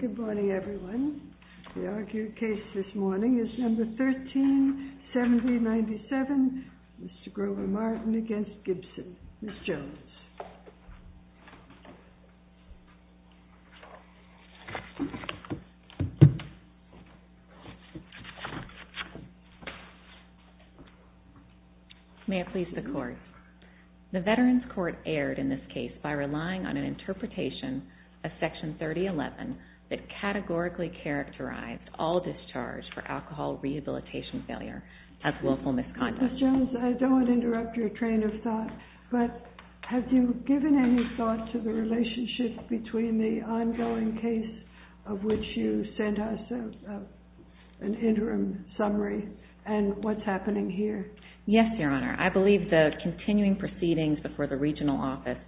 Good morning everyone. The argued case this morning is No. 13-7097, Mr. Grover Martin v. Gibson. Ms. Jones. May it please the Court. The Veterans Court erred in this case by relying on an interpretation of Section 3011 that categorically characterized all discharge for alcohol rehabilitation failure as willful misconduct. Ms. Jones, I don't want to interrupt your train of thought, but have you given any thought to the relationship between the ongoing case of which you sent us an interim summary and what's happening here? Yes, Your Honor, the District Attorney's regional office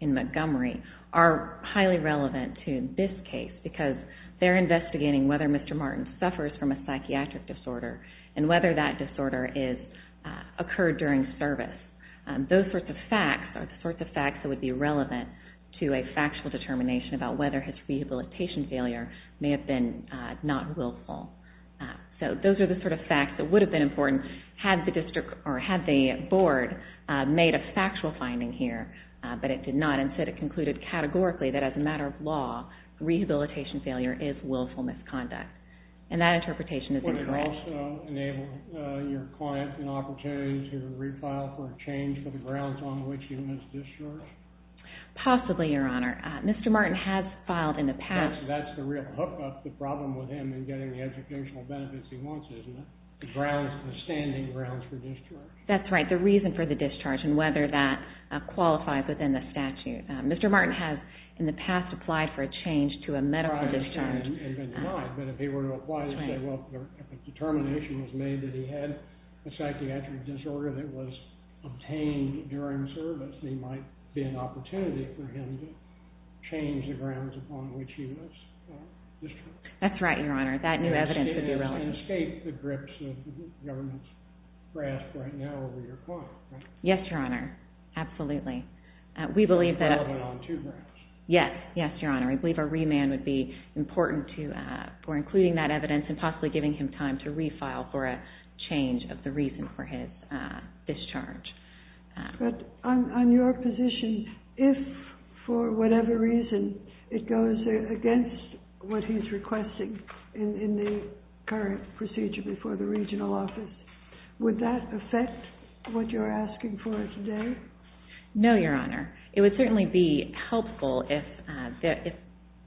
in Montgomery are highly relevant to this case because they're investigating whether Mr. Martin suffers from a psychiatric disorder and whether that disorder occurred during service. Those sorts of facts are the sorts of facts that would be relevant to a factual determination about whether his rehabilitation failure may have been not willful. So those are the sort of facts that would have been important had the Board made a factual finding here, but it did not. Instead, it concluded categorically that as a matter of law, rehabilitation failure is willful misconduct. And that interpretation is incorrect. Would it also enable your client an opportunity to re-file for a change for the grounds on which he was discharged? Possibly, Your Honor. Mr. Martin has filed in the past. That's the real hookup, the problem with him in getting the educational benefits he wants, isn't it? The grounds, the standing grounds for discharge. That's right, the reason for the discharge and whether that qualifies within the statute. Mr. Martin has in the past applied for a change to a medical discharge. But if he were to apply to say, well, if a determination was made that he had a psychiatric disorder that was obtained during service, there might be an opportunity for him to change the grounds upon which he was discharged. That's right, the grips that the government's grasped right now over your client, right? Yes, Your Honor, absolutely. We believe that a remand would be important to, for including that evidence and possibly giving him time to re-file for a change of the reason for his discharge. But on your position, if for whatever reason it goes against what he's requesting in the current procedure for the regional office, would that affect what you're asking for today? No, Your Honor, it would certainly be helpful if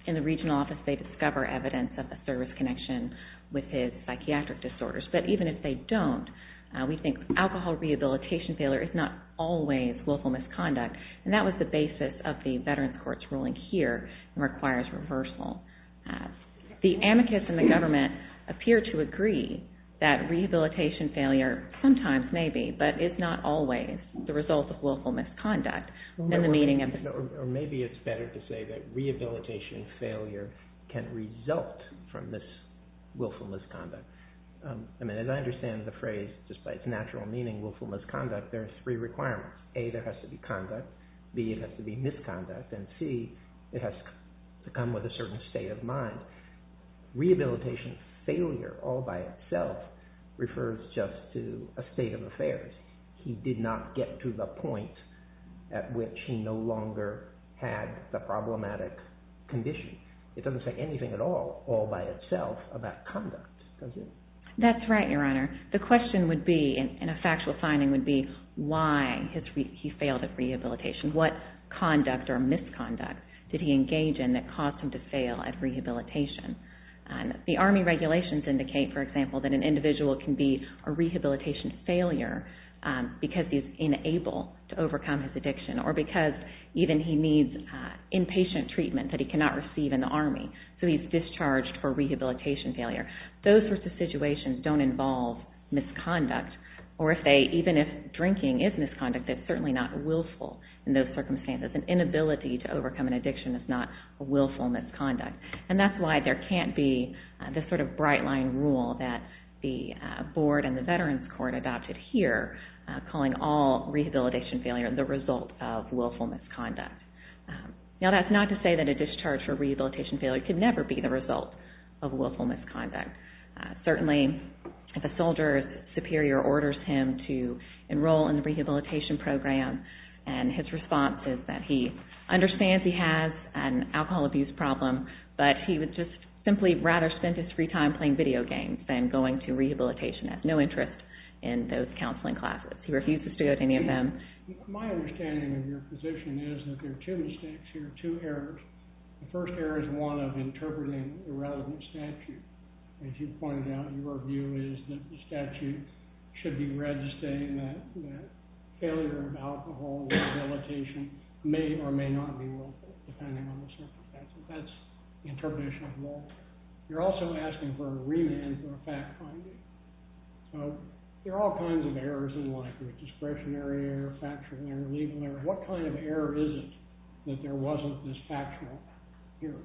in the regional office they discover evidence of a service connection with his psychiatric disorders. But even if they don't, we think alcohol rehabilitation failure is not always willful misconduct. And that was the basis of the Veterans Courts ruling here, requires reversal. The amicus and the government appear to agree that rehabilitation failure sometimes, maybe, but it's not always the result of willful misconduct. Or maybe it's better to say that rehabilitation failure can result from this willful misconduct. I mean, as I understand the phrase, despite its natural meaning, willful misconduct, there are three requirements. A, there has to be conduct. B, it has to be misconduct. And C, it has to come with a certain state of mind. Rehabilitation failure all by itself refers just to a state of affairs. He did not get to the point at which he no longer had the problematic condition. It doesn't say anything at all, all by itself, about conduct, does it? That's right, Your Honor. The question would be, and a factual finding would be, why he failed at rehabilitation. What conduct or misconduct did he engage in that caused him to fail at rehabilitation? The Army regulations indicate, for example, that an individual can be a rehabilitation failure because he's unable to overcome his addiction or because even he needs inpatient treatment that he cannot receive in the Army. So he's discharged for rehabilitation failure. Those sorts of situations don't involve misconduct, or even if drinking is misconduct, it's certainly not willful in those circumstances. An inability to overcome an addiction is not a willful misconduct. And that's why there can't be this sort of bright-line rule that the Board and the Veterans Court adopted here, calling all rehabilitation failure the result of willful misconduct. Now, that's not to say that a discharge for rehabilitation failure could never be the result of willful misconduct. Certainly, if a soldier's superior orders him to enroll in the rehabilitation program, and his response is that he understands he has an alcohol abuse problem, but he would just simply rather spend his free time playing video games than going to rehabilitation. He has no interest in those counseling classes. He refuses to go to any of them. My understanding of your position is that there are two mistakes here, two errors. The first error is one of interpreting irrelevant statute. As you pointed out, your view is that the statute should be registering that failure of alcohol rehabilitation may or may not be willful, depending on the circumstances. That's the interpretation of the law. You're also asking for a remand for a fact-finding. So there are all kinds of errors in life. There's discretionary error, factual error, legal error. What kind of error is it that there wasn't this factual error?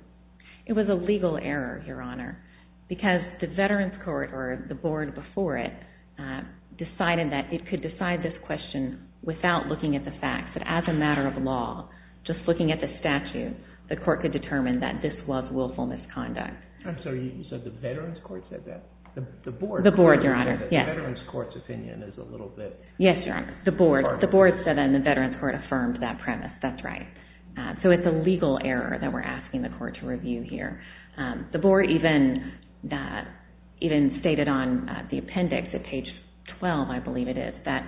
It was a legal error, Your Honor, because the Veterans Court, or the board before it, decided that it could decide this question without looking at the facts, that as a matter of law, just looking at the statute, the court could determine that this was willful misconduct. I'm sorry, you said the Veterans Court said that? The board? The board, Your Honor, yes. The Veterans Court's opinion is a little bit different. The board said that and the Veterans Court affirmed that premise. That's right. So it's a legal error that we're asking the court to review here. The board even stated on the appendix at page 12, I believe it is, that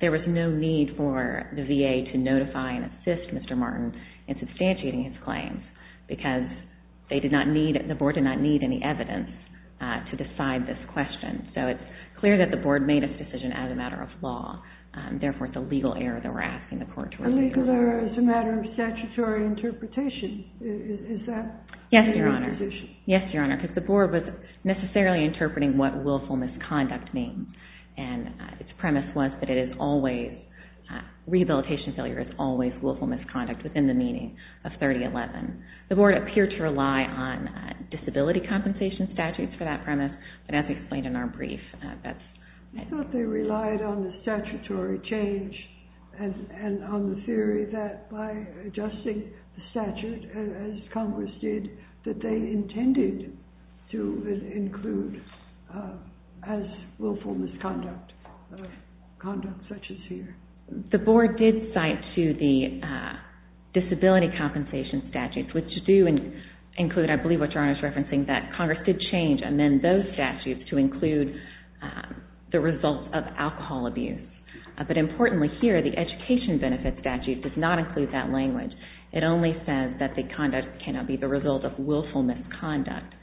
there was no need for the VA to notify and assist Mr. Martin in substantiating his claims because the board did not need any evidence to decide this question. So it's clear that the board made its decision as a matter of law, therefore it's a legal error that we're asking the court to review. A legal error as a matter of statutory interpretation, is that your position? Yes, Your Honor. Yes, Your Honor, because the board was necessarily interpreting what willful misconduct means and its premise was that it is always, rehabilitation failure is always willful misconduct within the meaning of 3011. The board appeared to rely on disability compensation statutes for that premise, but as explained in our brief, that's... You thought they relied on the statutory change and on the theory that by adjusting the statute, as Congress did, that they intended to include as willful misconduct, conduct such as here. The board did cite to the disability compensation statutes, which do include, I believe what Your Honor is referencing, that they intended those statutes to include the results of alcohol abuse. But importantly here, the education benefit statute does not include that language. It only says that the conduct cannot be the result of willful misconduct.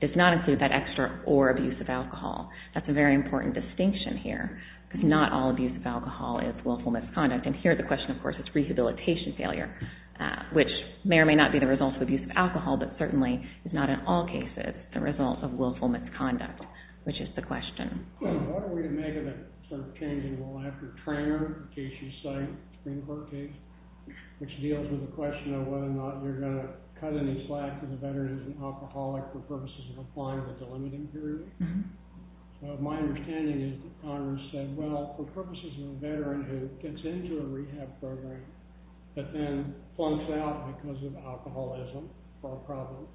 It does not include that extra or abuse of alcohol. That's a very important distinction here, because not all abuse of alcohol is willful misconduct, and here the question of course is rehabilitation failure, which may or may not be the result of abuse of alcohol, but certainly is not in all cases the result of willful misconduct, which is the question. What are we to make of that sort of change in law after Treanor, Casey's site, Supreme Court case, which deals with the question of whether or not you're going to cut any slack if a veteran is an alcoholic for purposes of applying with a limiting period? My understanding is that Congress said, well, for purposes of a veteran who gets into a rehab program but then flunks out because of alcoholism or a problem,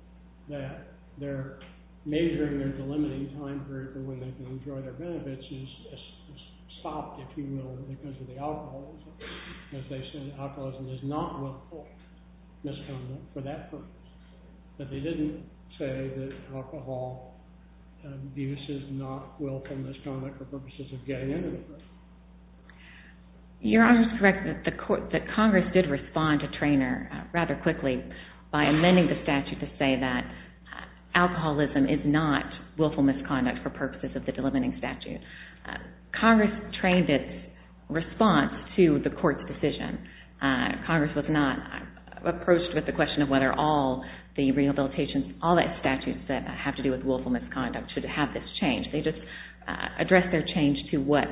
that they're measuring their delimiting time period for when they can enjoy their benefits is stopped, if you will, because of the alcoholism. As they said, alcoholism is not willful misconduct for that purpose. But they didn't say that alcohol abuse is not willful misconduct for purposes of getting into the program. Your Honor is correct that Congress did respond to Treanor rather quickly by amending the statute to say that alcoholism is not willful misconduct for purposes of the delimiting statute. Congress trained its response to the court's decision. Congress was not approached with the question of whether all the rehabilitations, all the statutes that have to do with willful misconduct should have this change. They just addressed their change to what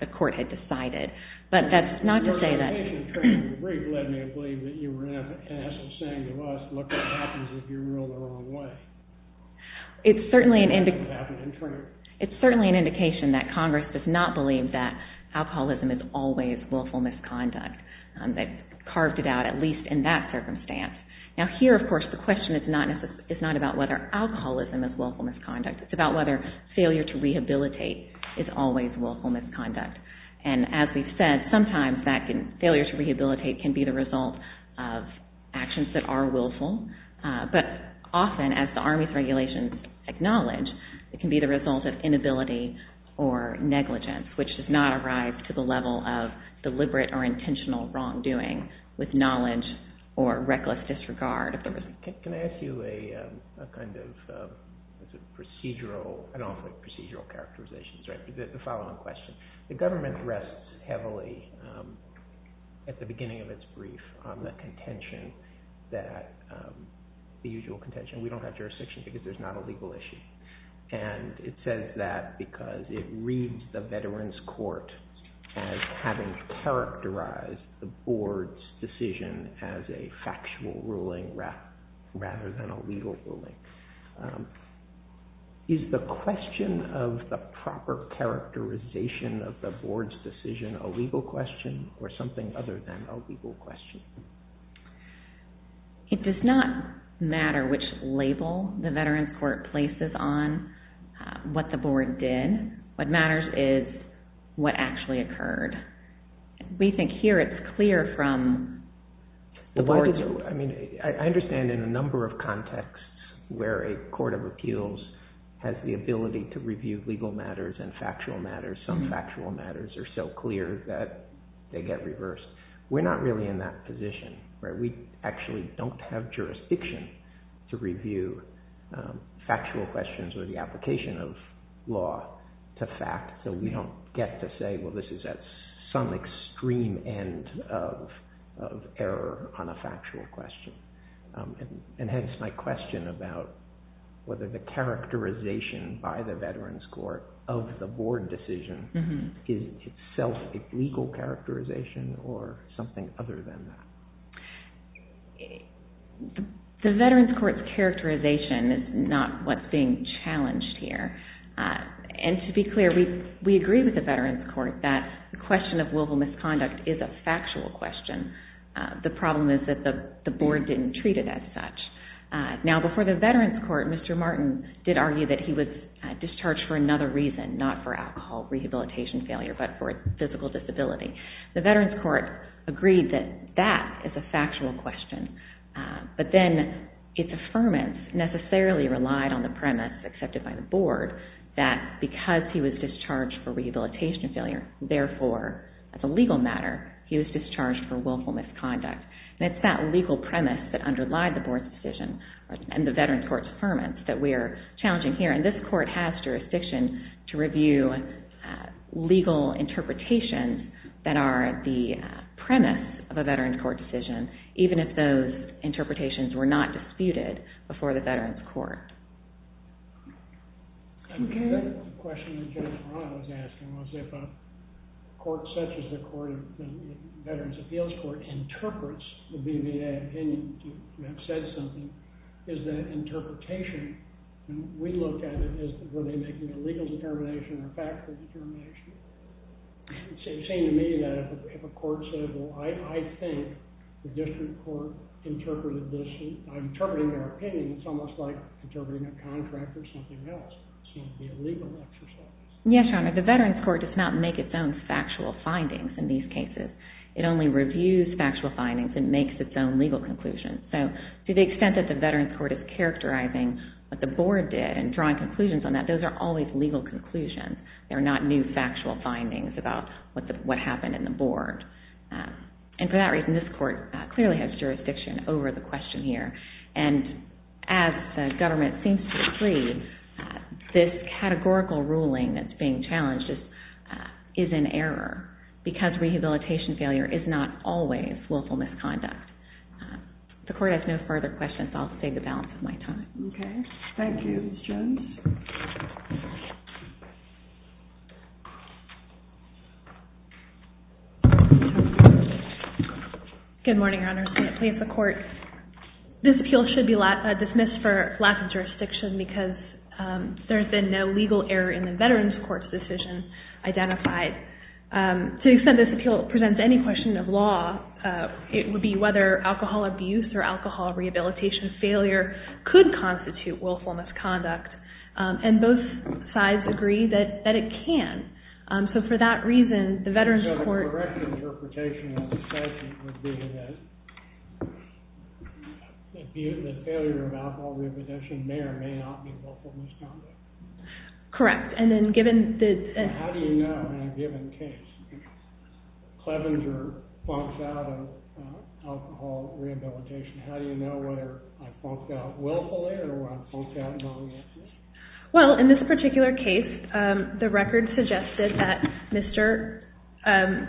the court had decided. But that's not to say that... Your indication, Treanor, really led me to believe that you were going to ask and say to us, look, what happens if you're ruled the wrong way? It's certainly an indication that Congress does not believe that alcoholism is always willful misconduct. They've carved it out at least in that circumstance. Now failure to rehabilitate is always willful misconduct. And as we've said, sometimes failure to rehabilitate can be the result of actions that are willful. But often, as the Army's regulations acknowledge, it can be the result of inability or negligence, which does not arise to the level of deliberate or intentional wrongdoing with knowledge or with procedural... I don't like procedural characterizations. The following question. The government rests heavily at the beginning of its brief on the contention that... The usual contention. We don't have jurisdiction because there's not a legal issue. And it says that because it reads the Veterans Court as having characterized the board's decision as a factual ruling rather than a legal ruling. Is the question of the proper characterization of the board's decision a legal question or something other than a legal question? It does not matter which label the Veterans Court places on what the board did. What matters is what actually occurred. We think here it's clear from the board's... I understand in a number of contexts where a court of appeals has the ability to review legal matters and factual matters. Some factual matters are so clear that they get reversed. We're not really in that position where we actually don't have jurisdiction to review factual questions or the application of law to fact. So we don't get to say, well, this is at some extreme end of error on a factual question. And hence my question about whether the characterization by the Veterans Court of the board decision is itself a legal characterization or something other than that. The Veterans Court's characterization is not what's being challenged here. And to be clear, we agree with the Veterans Court that the question of willful misconduct is a factual question. The problem is that the board didn't treat it as such. Now, before the Veterans Court, Mr. Martin did argue that he was discharged for another reason, not for alcohol rehabilitation failure, but for physical disability. The Veterans Court agreed that that is a factual question. But then its affirmance necessarily relied on the premise accepted by the board that because he was discharged for rehabilitation failure, therefore, as a legal matter, he was discharged for willful misconduct. And it's that legal premise that underlied the board's decision and the Veterans Court's affirmance that we're challenging here. And this court has jurisdiction to review legal interpretations that are the premise of a Veterans Court decision, even if those interpretations were not disputed before the Veterans Court. The question that Judge Marant was asking was if a court such as the Veterans Appeals Court interprets the BVA opinion to have said something, is that interpretation, and we looked at it, were they making a legal determination or a factual determination? It seemed to me that if a court said, well, I think the district court interpreted this, I'm interpreting their opinion, it's almost like interpreting a contract or something else. It's going to be a legal exercise. Yes, Your Honor. The Veterans Court does not make its own factual findings in these cases. It only reviews factual findings and makes its own legal conclusions. So to the extent that the Veterans Court is characterizing what the board did and drawing conclusions on that, those are always legal conclusions. They're not new factual findings about what happened in the board. And for that reason, this court clearly has jurisdiction over the question here. And as the government seems to agree, this categorical ruling that's being challenged is in error because rehabilitation failure is not always willful misconduct. The court has no further questions. I'll take the balance of my time. Okay. Thank you, Ms. Jones. Good morning, Your Honor. Please, the court. This appeal should be dismissed for lack of jurisdiction because there's been no legal error in the Veterans Court's decision identified. To the extent this appeal presents any question of law, it would be whether alcohol abuse or alcohol rehabilitation failure could constitute willful misconduct. And both sides agree that it can. So for that reason, the Veterans Court... So the correct interpretation of the statute would be that the failure of alcohol rehabilitation may or may not be willful misconduct. Correct. And then given the... How do you know, in a given case, Clevenger funks out of alcohol rehabilitation, how do you know whether I funked out willfully or whether I funked out knowingly? Well, in this particular case, the record suggested that Mr.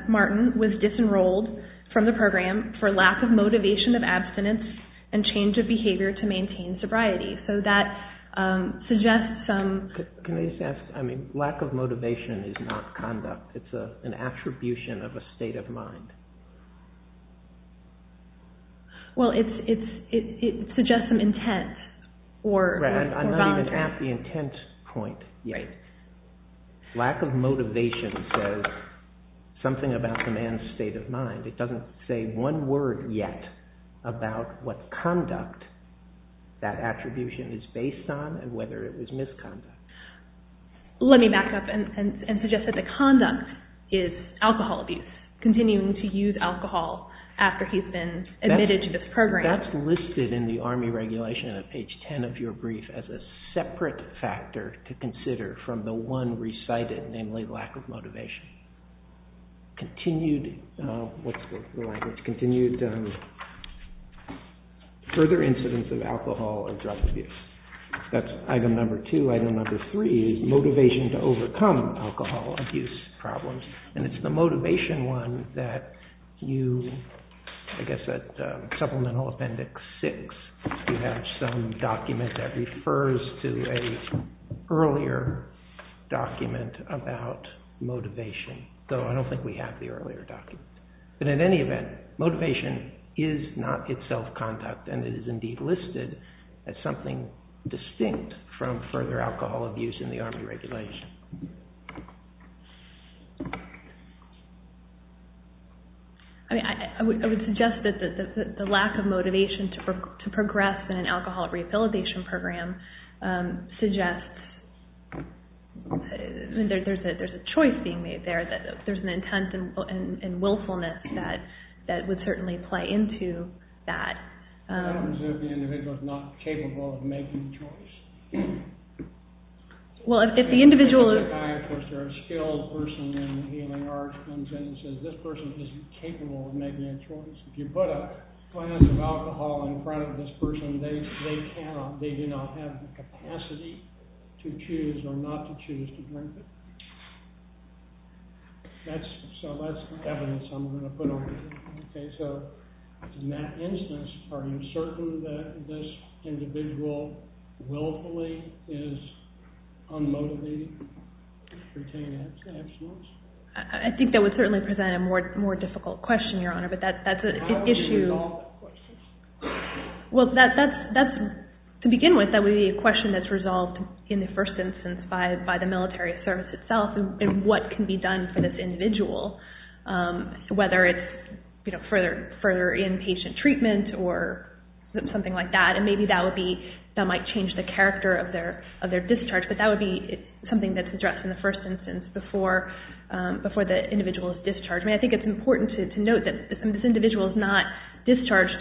Martin was disenrolled from the program for lack of motivation of abstinence and change of behavior to maintain sobriety. So that suggests some... Can I just ask, I mean, lack of motivation is not conduct. It's an attribution of a state of mind. Well, it suggests some intent. Right, I'm not even at the intent point yet. Lack of motivation says something about the man's state of mind. It doesn't say one word yet about what conduct that attribution is to misconduct. Let me back up and suggest that the conduct is alcohol abuse, continuing to use alcohol after he's been admitted to this program. That's listed in the Army Regulation at page 10 of your brief as a separate factor to consider from the one recited, namely lack of motivation. Continued, what's the right word? Continued further incidence of alcohol or drug abuse. That's item number two. Item number three is motivation to overcome alcohol abuse problems. And it's the motivation one that you, I guess at supplemental appendix six, you have some of the earlier documents. But in any event, motivation is not itself conduct and it is indeed listed as something distinct from further alcohol abuse in the Army Regulation. I would suggest that the lack of motivation to progress in an alcohol rehabilitation program suggests that there's a choice being made there, that there's an intent and willfulness that would certainly play into that. I don't presume the individual is not capable of making a choice. Well, if the individual is... If a psychiatrist or a skilled person in the healing arts comes in and says this person isn't capable of making a choice, if you put a glass of alcohol in front of this person, they cannot, they do not have the capacity to choose or not to choose to drink it. So that's evidence I'm going to put on you. Okay, so in that instance, are you certain that this individual willfully is unmotivated pertaining to abstinence? I think that would certainly present a more difficult question, Your Honor, but that's an issue... How would you resolve that question? Well, that's... To begin with, that would be a question that's resolved in the first instance by the military service itself and what can be done for this individual, whether it's further inpatient treatment or something like that, and maybe that would be... That might change the character of their discharge, but that would be something that's addressed in the first instance before the individual is discharged. I think it's important to note that this individual is not discharged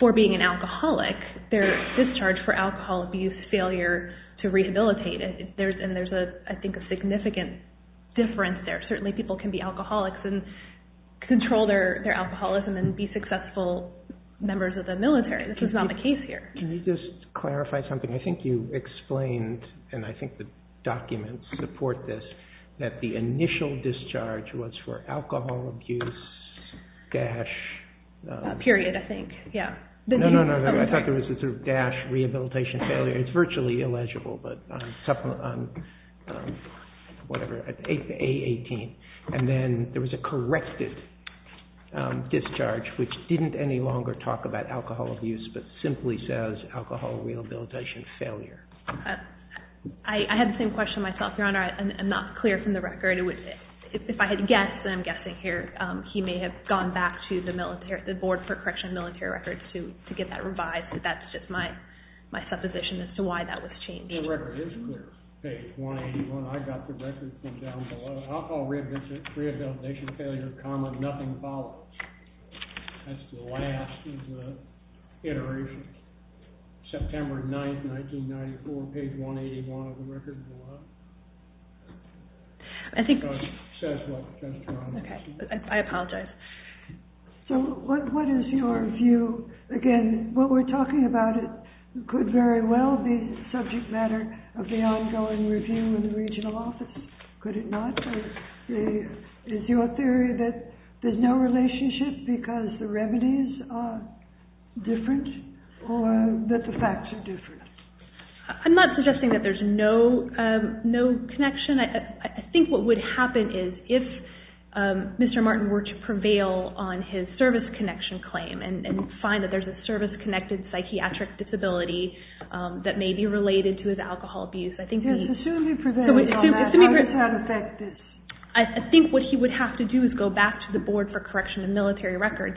for being an alcoholic. They're discharged for alcohol abuse failure to rehabilitate it, and there's, I think, a significant difference there. Certainly people can be alcoholics and control their alcoholism and be successful members of the military. This is not the case here. Can you just clarify something? I think you explained, and I think the documents support this, that the initial discharge was for alcohol abuse dash... Period, I think. Yeah. No, no, no, no. I thought there was a sort of dash rehabilitation failure. It's virtually illegible, but... Whatever. A18. And then there was a corrected discharge which didn't any longer talk about alcohol abuse but simply says alcohol rehabilitation failure. I had the same question myself, Your Honor. I'm not clear from the record. If I had guessed, and I'm guessing here, he may have gone back to the Board for Correctional Military Records to get that revised, but that's just my supposition as to why that was changed. The record isn't there. Page 181. I got the record from down below. Alcohol rehabilitation failure, comma, nothing follows. That's the last of the iterations. September 9th, 1994, page 181 of the record below. I think... Says what? Okay. I apologize. So what is your view? Again, what we're talking about could very well be a subject matter of the ongoing review in the regional offices. Could it not? Is your theory that there's no relationship because the remedies are different or that the facts are different? I'm not suggesting that there's no connection. I think what would happen is if Mr. Martin were to prevail on his service connection claim and find that there's a service-connected psychiatric disability that may be related to his alcohol abuse, I think... Yes, assume he prevailed on that. Assume he prevailed. How does that affect it? I think what he would have to do is go back to the Board for Correctional Military Records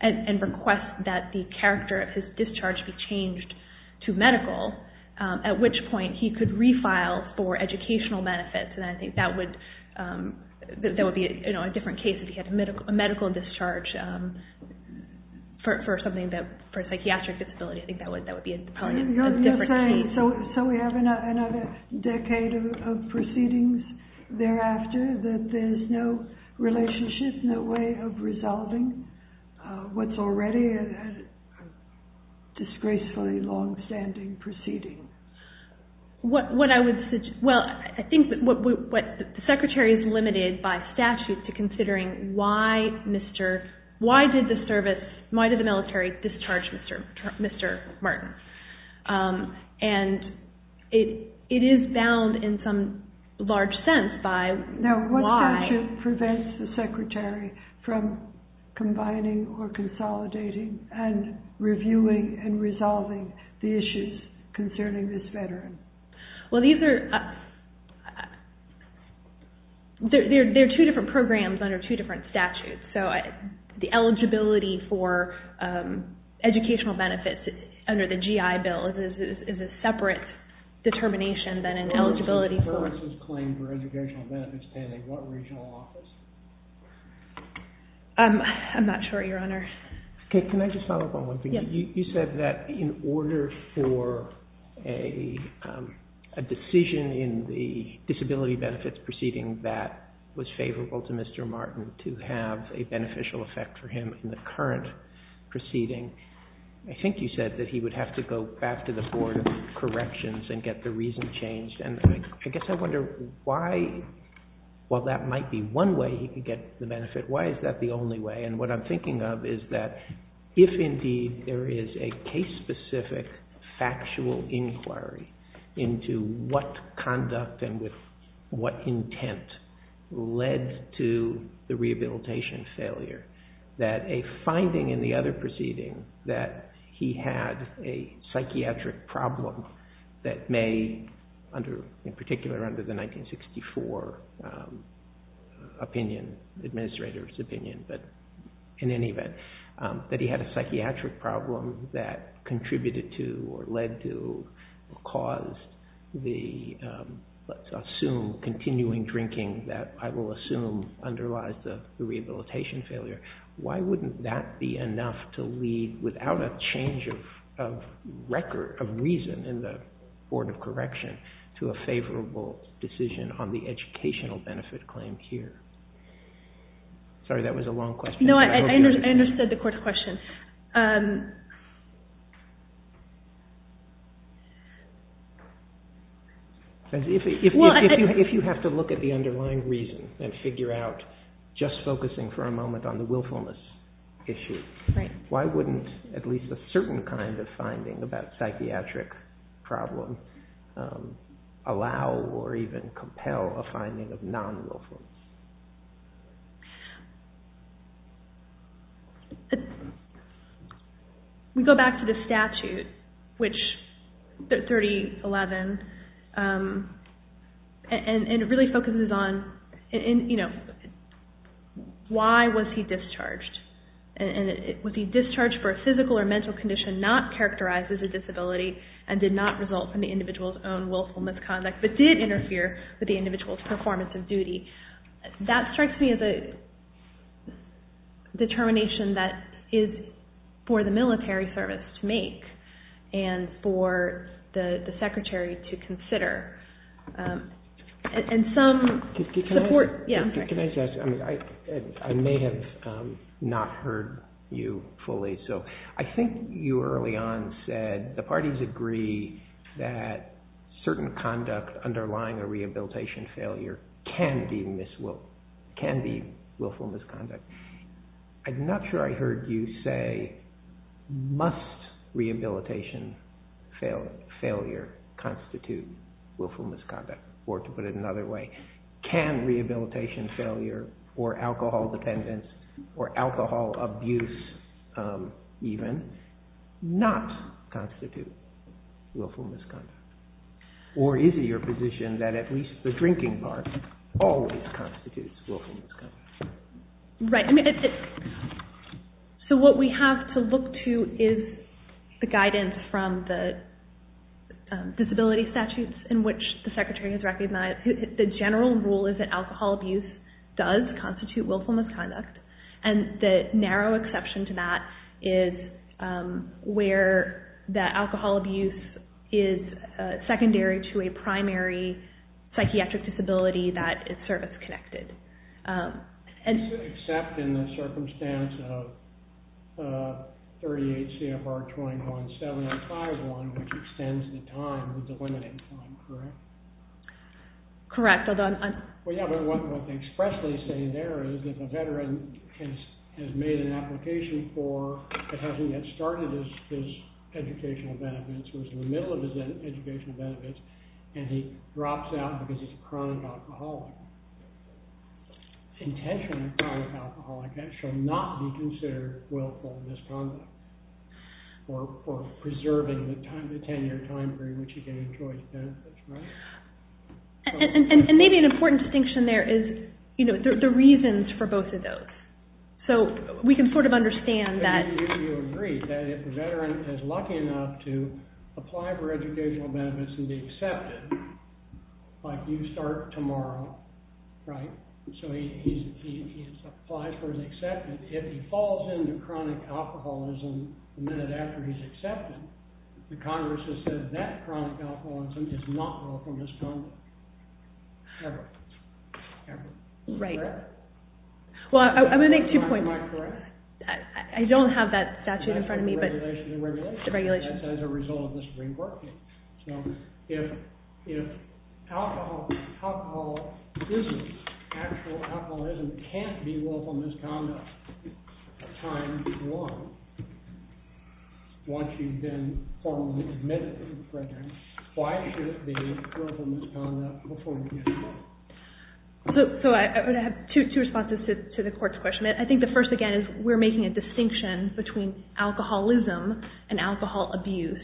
and request that the character of his discharge be changed to medical, at which point he could refile for educational benefits. And I think that would be a different case if he had a medical discharge for something that... For a psychiatric disability, I think that would be probably a different case. So we have another decade of proceedings thereafter that there's no relationship, no way of resolving? What's already a disgracefully long-standing proceeding? What I would suggest... Well, I think that what... The Secretary is limited by statute to considering why did the military discharge Mr. Martin? And it is bound in some large sense by why... Now, what statute prevents the Secretary from combining or consolidating and reviewing and resolving the issues concerning this veteran? Well, there are two different programs under two different statutes. So the eligibility for educational benefits under the GI Bill is a separate determination than an eligibility for... I'm not sure, Your Honor. Can I just follow up on one thing? You said that in order for a decision in the disability benefits proceeding that was favorable to Mr. Martin to have a beneficial effect for him in the current proceeding, I think you said that he would have to go back to the Board of Corrections and get the reason changed. And I guess I wonder why... While that might be one way he could get the benefit, why is that the only way? And what I'm thinking of is that if indeed there is a case-specific factual inquiry into what conduct and with what intent led to the rehabilitation failure, that a finding in the other proceeding that he had a psychiatric problem that may, in particular under the 1964 opinion, administrator's opinion, but in any event, that he had a psychiatric problem that contributed to or led to or caused the, let's assume, continuing drinking that I will assume underlies the rehabilitation failure. Why wouldn't that be enough to lead, without a change of reason in the Board of Correction, to a favorable decision on the educational benefit claim here? Sorry, that was a long question. No, I understood the court's question. If you have to look at the underlying reason and figure out, just focusing for a moment on the willfulness issue, why wouldn't at least a certain kind of finding about psychiatric problem allow or even compel a finding of non-willfulness? We go back to the statute, 3011, and it really focuses on why was he discharged. Was he discharged for a physical or mental condition not characterized as a disability and did not result from the individual's own willful misconduct, but did interfere with the individual's performance of duty? That strikes me as a determination that is for the military service to make and for the secretary to consider. I may have not heard you fully, so I think you early on said that the parties agree that certain conduct underlying a rehabilitation failure can be willful misconduct. I'm not sure I heard you say, must rehabilitation failure constitute willful misconduct, or to put it another way, can rehabilitation failure or alcohol dependence or alcohol abuse even not constitute willful misconduct? Or is it your position that at least the drinking part always constitutes willful misconduct? What we have to look to is the guidance from the disability statutes in which the secretary has recognized the general rule is that alcohol abuse does constitute willful misconduct, and the narrow exception to that is where the alcohol abuse is secondary to a primary psychiatric disability that is service-connected. Except in the circumstance of 38 CFR 21-7-5-1, which extends the time, the delimiting time, correct? Correct. What they expressly say there is that the veteran has made an application for, but hasn't yet started his educational benefits, who is in the middle of his educational benefits, and he drops out because he's a chronic alcoholic. Intentionally chronic alcoholic shall not be considered willful misconduct or preserving the 10-year time period in which he can enjoy his benefits, right? And maybe an important distinction there is the reasons for both of those. So we can sort of understand that. Why do you agree that if a veteran is lucky enough to apply for educational benefits and be accepted, like you start tomorrow, right? So he applies for his acceptance. If he falls into chronic alcoholism the minute after he's accepted, the Congress has said that chronic alcoholism is not willful misconduct ever, ever. Right. Well, I'm going to make two points. Am I correct? I don't have that statute in front of me, but the regulation. That's as a result of the Supreme Court case. So if alcoholism, actual alcoholism, can't be willful misconduct at time one, once you've been formally admitted to the prison, why should it be willful misconduct before you get out? So I would have two responses to the court's question. I think the first, again, is we're making a distinction between alcoholism and alcohol abuse.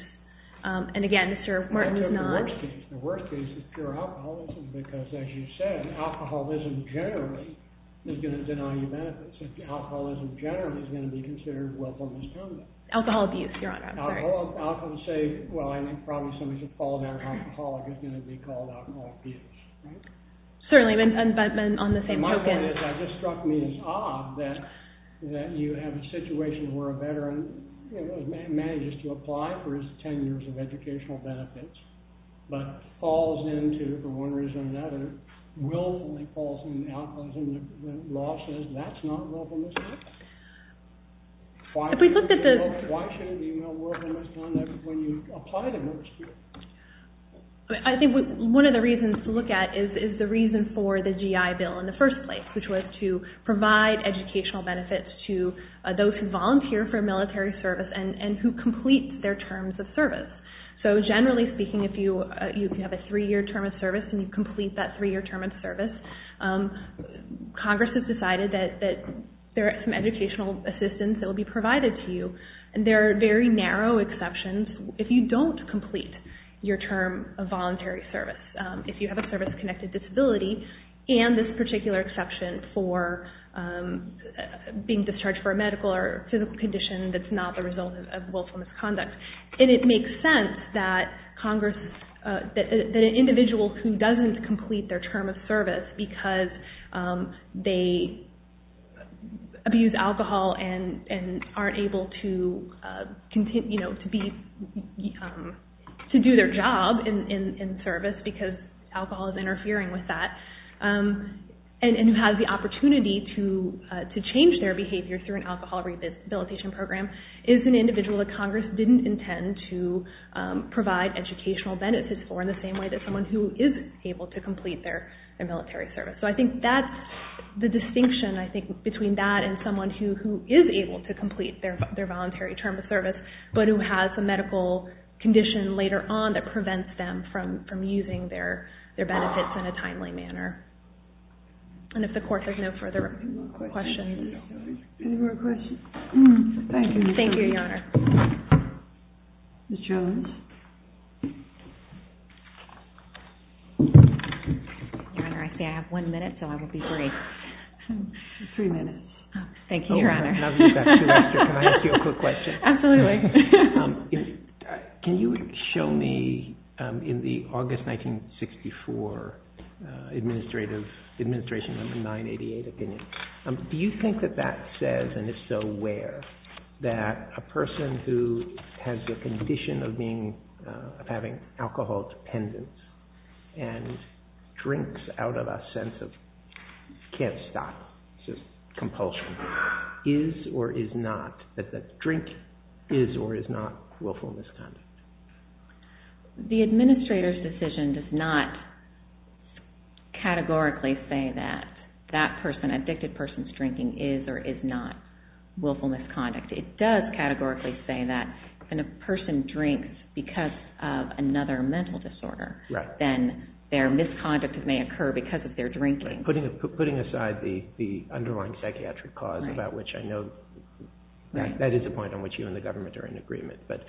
And, again, Mr. Martin is not. The worst case is pure alcoholism because, as you said, alcoholism generally is going to deny you benefits. Alcoholism generally is going to be considered willful misconduct. Alcohol abuse, Your Honor. I'm sorry. I'll often say, well, I mean, probably somebody's a polymeric alcoholic is going to be called alcohol abuse, right? Certainly, but on the same token. My point is, it just struck me as odd that you have a situation where a veteran manages to apply for his 10 years of educational benefits, but falls into, for one reason or another, willfully falls into alcoholism. The law says that's not willful misconduct. Why should it be willful misconduct when you apply to nurse school? I think one of the reasons to look at is the reason for the GI Bill in the first place, which was to provide educational benefits to those who volunteer for military service and who complete their terms of service. So, generally speaking, if you have a three-year term of service and you complete that three-year term of service, Congress has decided that there are some educational assistance that will be provided to you, and there are very narrow exceptions if you don't complete your term of voluntary service. If you have a service-connected disability, and this particular exception for being discharged for a medical or physical condition that's not the result of willful misconduct. It makes sense that an individual who doesn't complete their term of service because they abuse alcohol and aren't able to do their job in service because alcohol is interfering with that, and who has the opportunity to change their behavior through an alcohol rehabilitation program, is an individual that Congress didn't intend to provide educational benefits for in the same way that someone who is able to complete their military service. So I think that's the distinction, I think, between that and someone who is able to complete their voluntary term of service, but who has a medical condition later on that prevents them from using their benefits in a timely manner. And if the Court has no further questions. Any more questions? Thank you. Thank you, Your Honor. Ms. Jones? Your Honor, I see I have one minute, so I will be brief. Three minutes. Thank you, Your Honor. Can I ask you a quick question? Absolutely. Can you show me, in the August 1964 administration number 988 opinion, do you think that that says, and is so rare, that a person who has the condition of having alcohol dependence and drinks out of a sense of can't stop, just compulsion, is or is not, that drink is or is not willful misconduct? The administrator's decision does not categorically say that that person, addicted person's drinking, is or is not willful misconduct. It does categorically say that when a person drinks because of another mental disorder, then their misconduct may occur because of their drinking. Putting aside the underlying psychiatric cause, about which I know that is a point on which you and the government are in agreement, but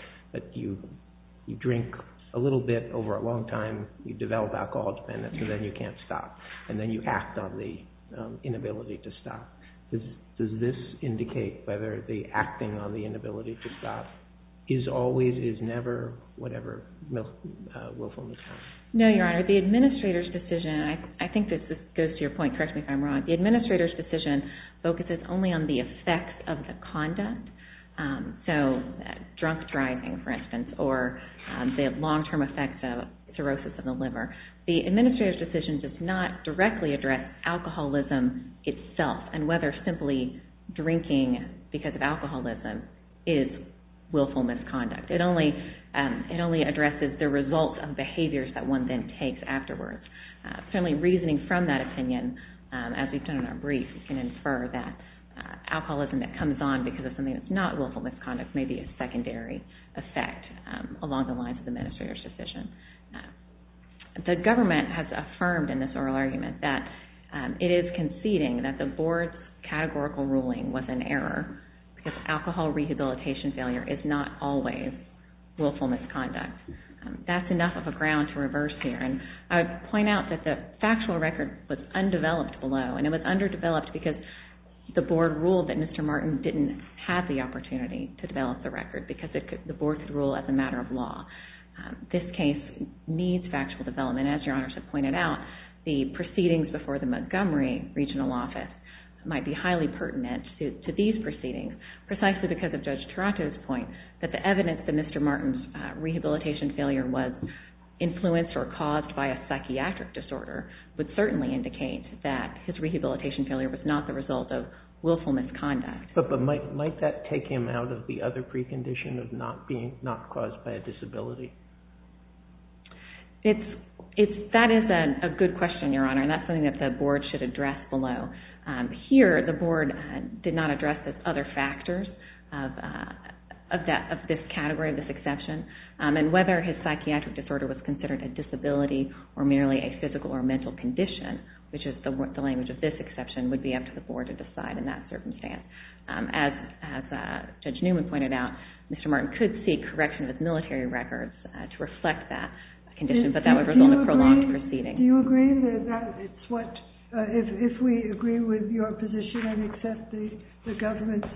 you drink a little bit over a long time, you develop alcohol dependence, and then you can't stop, and then you act on the inability to stop. Does this indicate whether the acting on the inability to stop is always, is never, whatever willful misconduct? No, Your Honor. The administrator's decision, and I think this goes to your point, correct me if I'm wrong, the administrator's decision focuses only on the effects of the conduct, so drunk driving, for instance, or the long-term effects of cirrhosis of the liver. The administrator's decision does not directly address alcoholism itself and whether simply drinking because of alcoholism is willful misconduct. It only addresses the result of behaviors that one then takes afterwards. Certainly, reasoning from that opinion, as we've done in our brief, can infer that alcoholism that comes on because of something that's not willful misconduct may be a secondary effect along the lines of the administrator's decision. The government has affirmed in this oral argument that it is conceding that the board's categorical ruling was an error because alcohol rehabilitation failure is not always willful misconduct. That's enough of a ground to reverse here, and I would point out that the factual record was undeveloped below, and it was underdeveloped because the board ruled that Mr. Martin didn't have the opportunity to develop the record because the board could rule as a matter of law. This case needs factual development. As Your Honors have pointed out, the proceedings before the Montgomery Regional Office might be highly pertinent to these proceedings precisely because of Judge Taranto's point that the evidence that Mr. Martin's rehabilitation failure was influenced or caused by a psychiatric disorder would certainly indicate that his rehabilitation failure was not the result of willful misconduct. But might that take him out of the other precondition of not being caused by a disability? That is a good question, Your Honor, and that's something that the board should address below. Here, the board did not address the other factors of this category, of this exception, and whether his psychiatric disorder was considered a disability or merely a physical or mental condition, which is the language of this exception, would be up to the board to decide in that circumstance. As Judge Newman pointed out, Mr. Martin could seek correction of his military records to reflect that condition, but that would result in a prolonged proceeding. Do you agree that if we agree with your position and accept the government's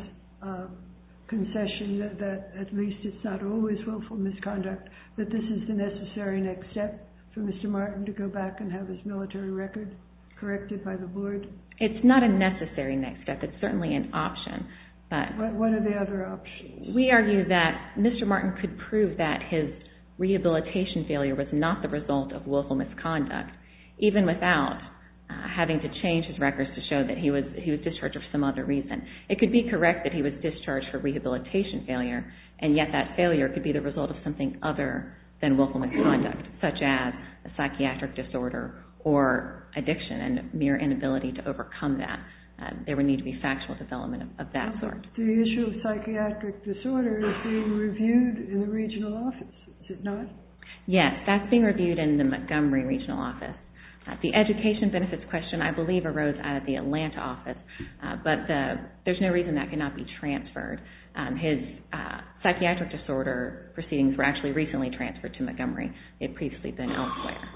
concession that at least it's not always willful misconduct, that this is the necessary next step for Mr. Martin to go back and have his military records corrected by the board? It's not a necessary next step. It's certainly an option. What are the other options? We argue that Mr. Martin could prove that his rehabilitation failure was not the result of willful misconduct, even without having to change his records to show that he was discharged for some other reason. It could be correct that he was discharged for rehabilitation failure, and yet that failure could be the result of something other than willful misconduct, such as a psychiatric disorder or addiction and mere inability to overcome that. There would need to be factual development of that sort. The issue of psychiatric disorder is being reviewed in the regional office, is it not? Yes, that's being reviewed in the Montgomery regional office. The education benefits question, I believe, arose out of the Atlanta office, but there's no reason that cannot be transferred. His psychiatric disorder proceedings were actually recently transferred to Montgomery. It had previously been elsewhere.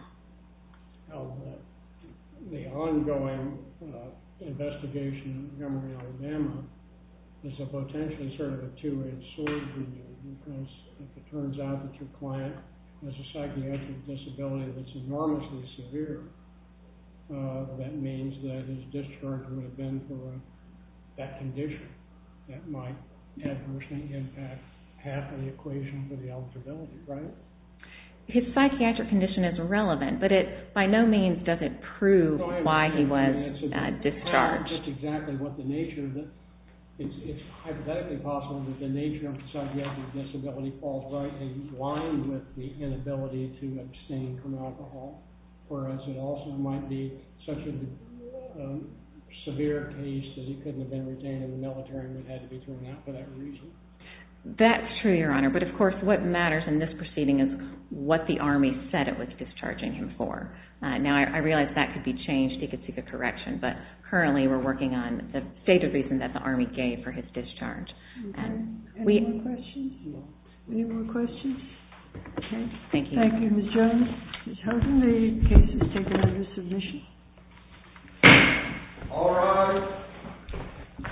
The ongoing investigation in Montgomery, Alabama is potentially sort of a two-edged sword for you, because if it turns out that your client has a psychiatric disability that's enormously severe, that means that his discharge would have been for that condition. That might adversely impact half of the equation for the eligibility, right? His psychiatric condition is relevant, but it by no means doesn't prove why he was discharged. That's exactly what the nature of the... He's lying with the inability to abstain from alcohol, whereas it also might be such a severe case that he couldn't have been retained in the military and would have had to be thrown out for that reason. That's true, Your Honor. But, of course, what matters in this proceeding is what the Army said it was discharging him for. Now, I realize that could be changed. He could seek a correction, but currently we're working on the stated reason that the Army gave for his discharge. Any more questions? No. Any more questions? Okay. Thank you. Thank you, Ms. Jones. Ms. Hilton, the case is taken under submission. All rise.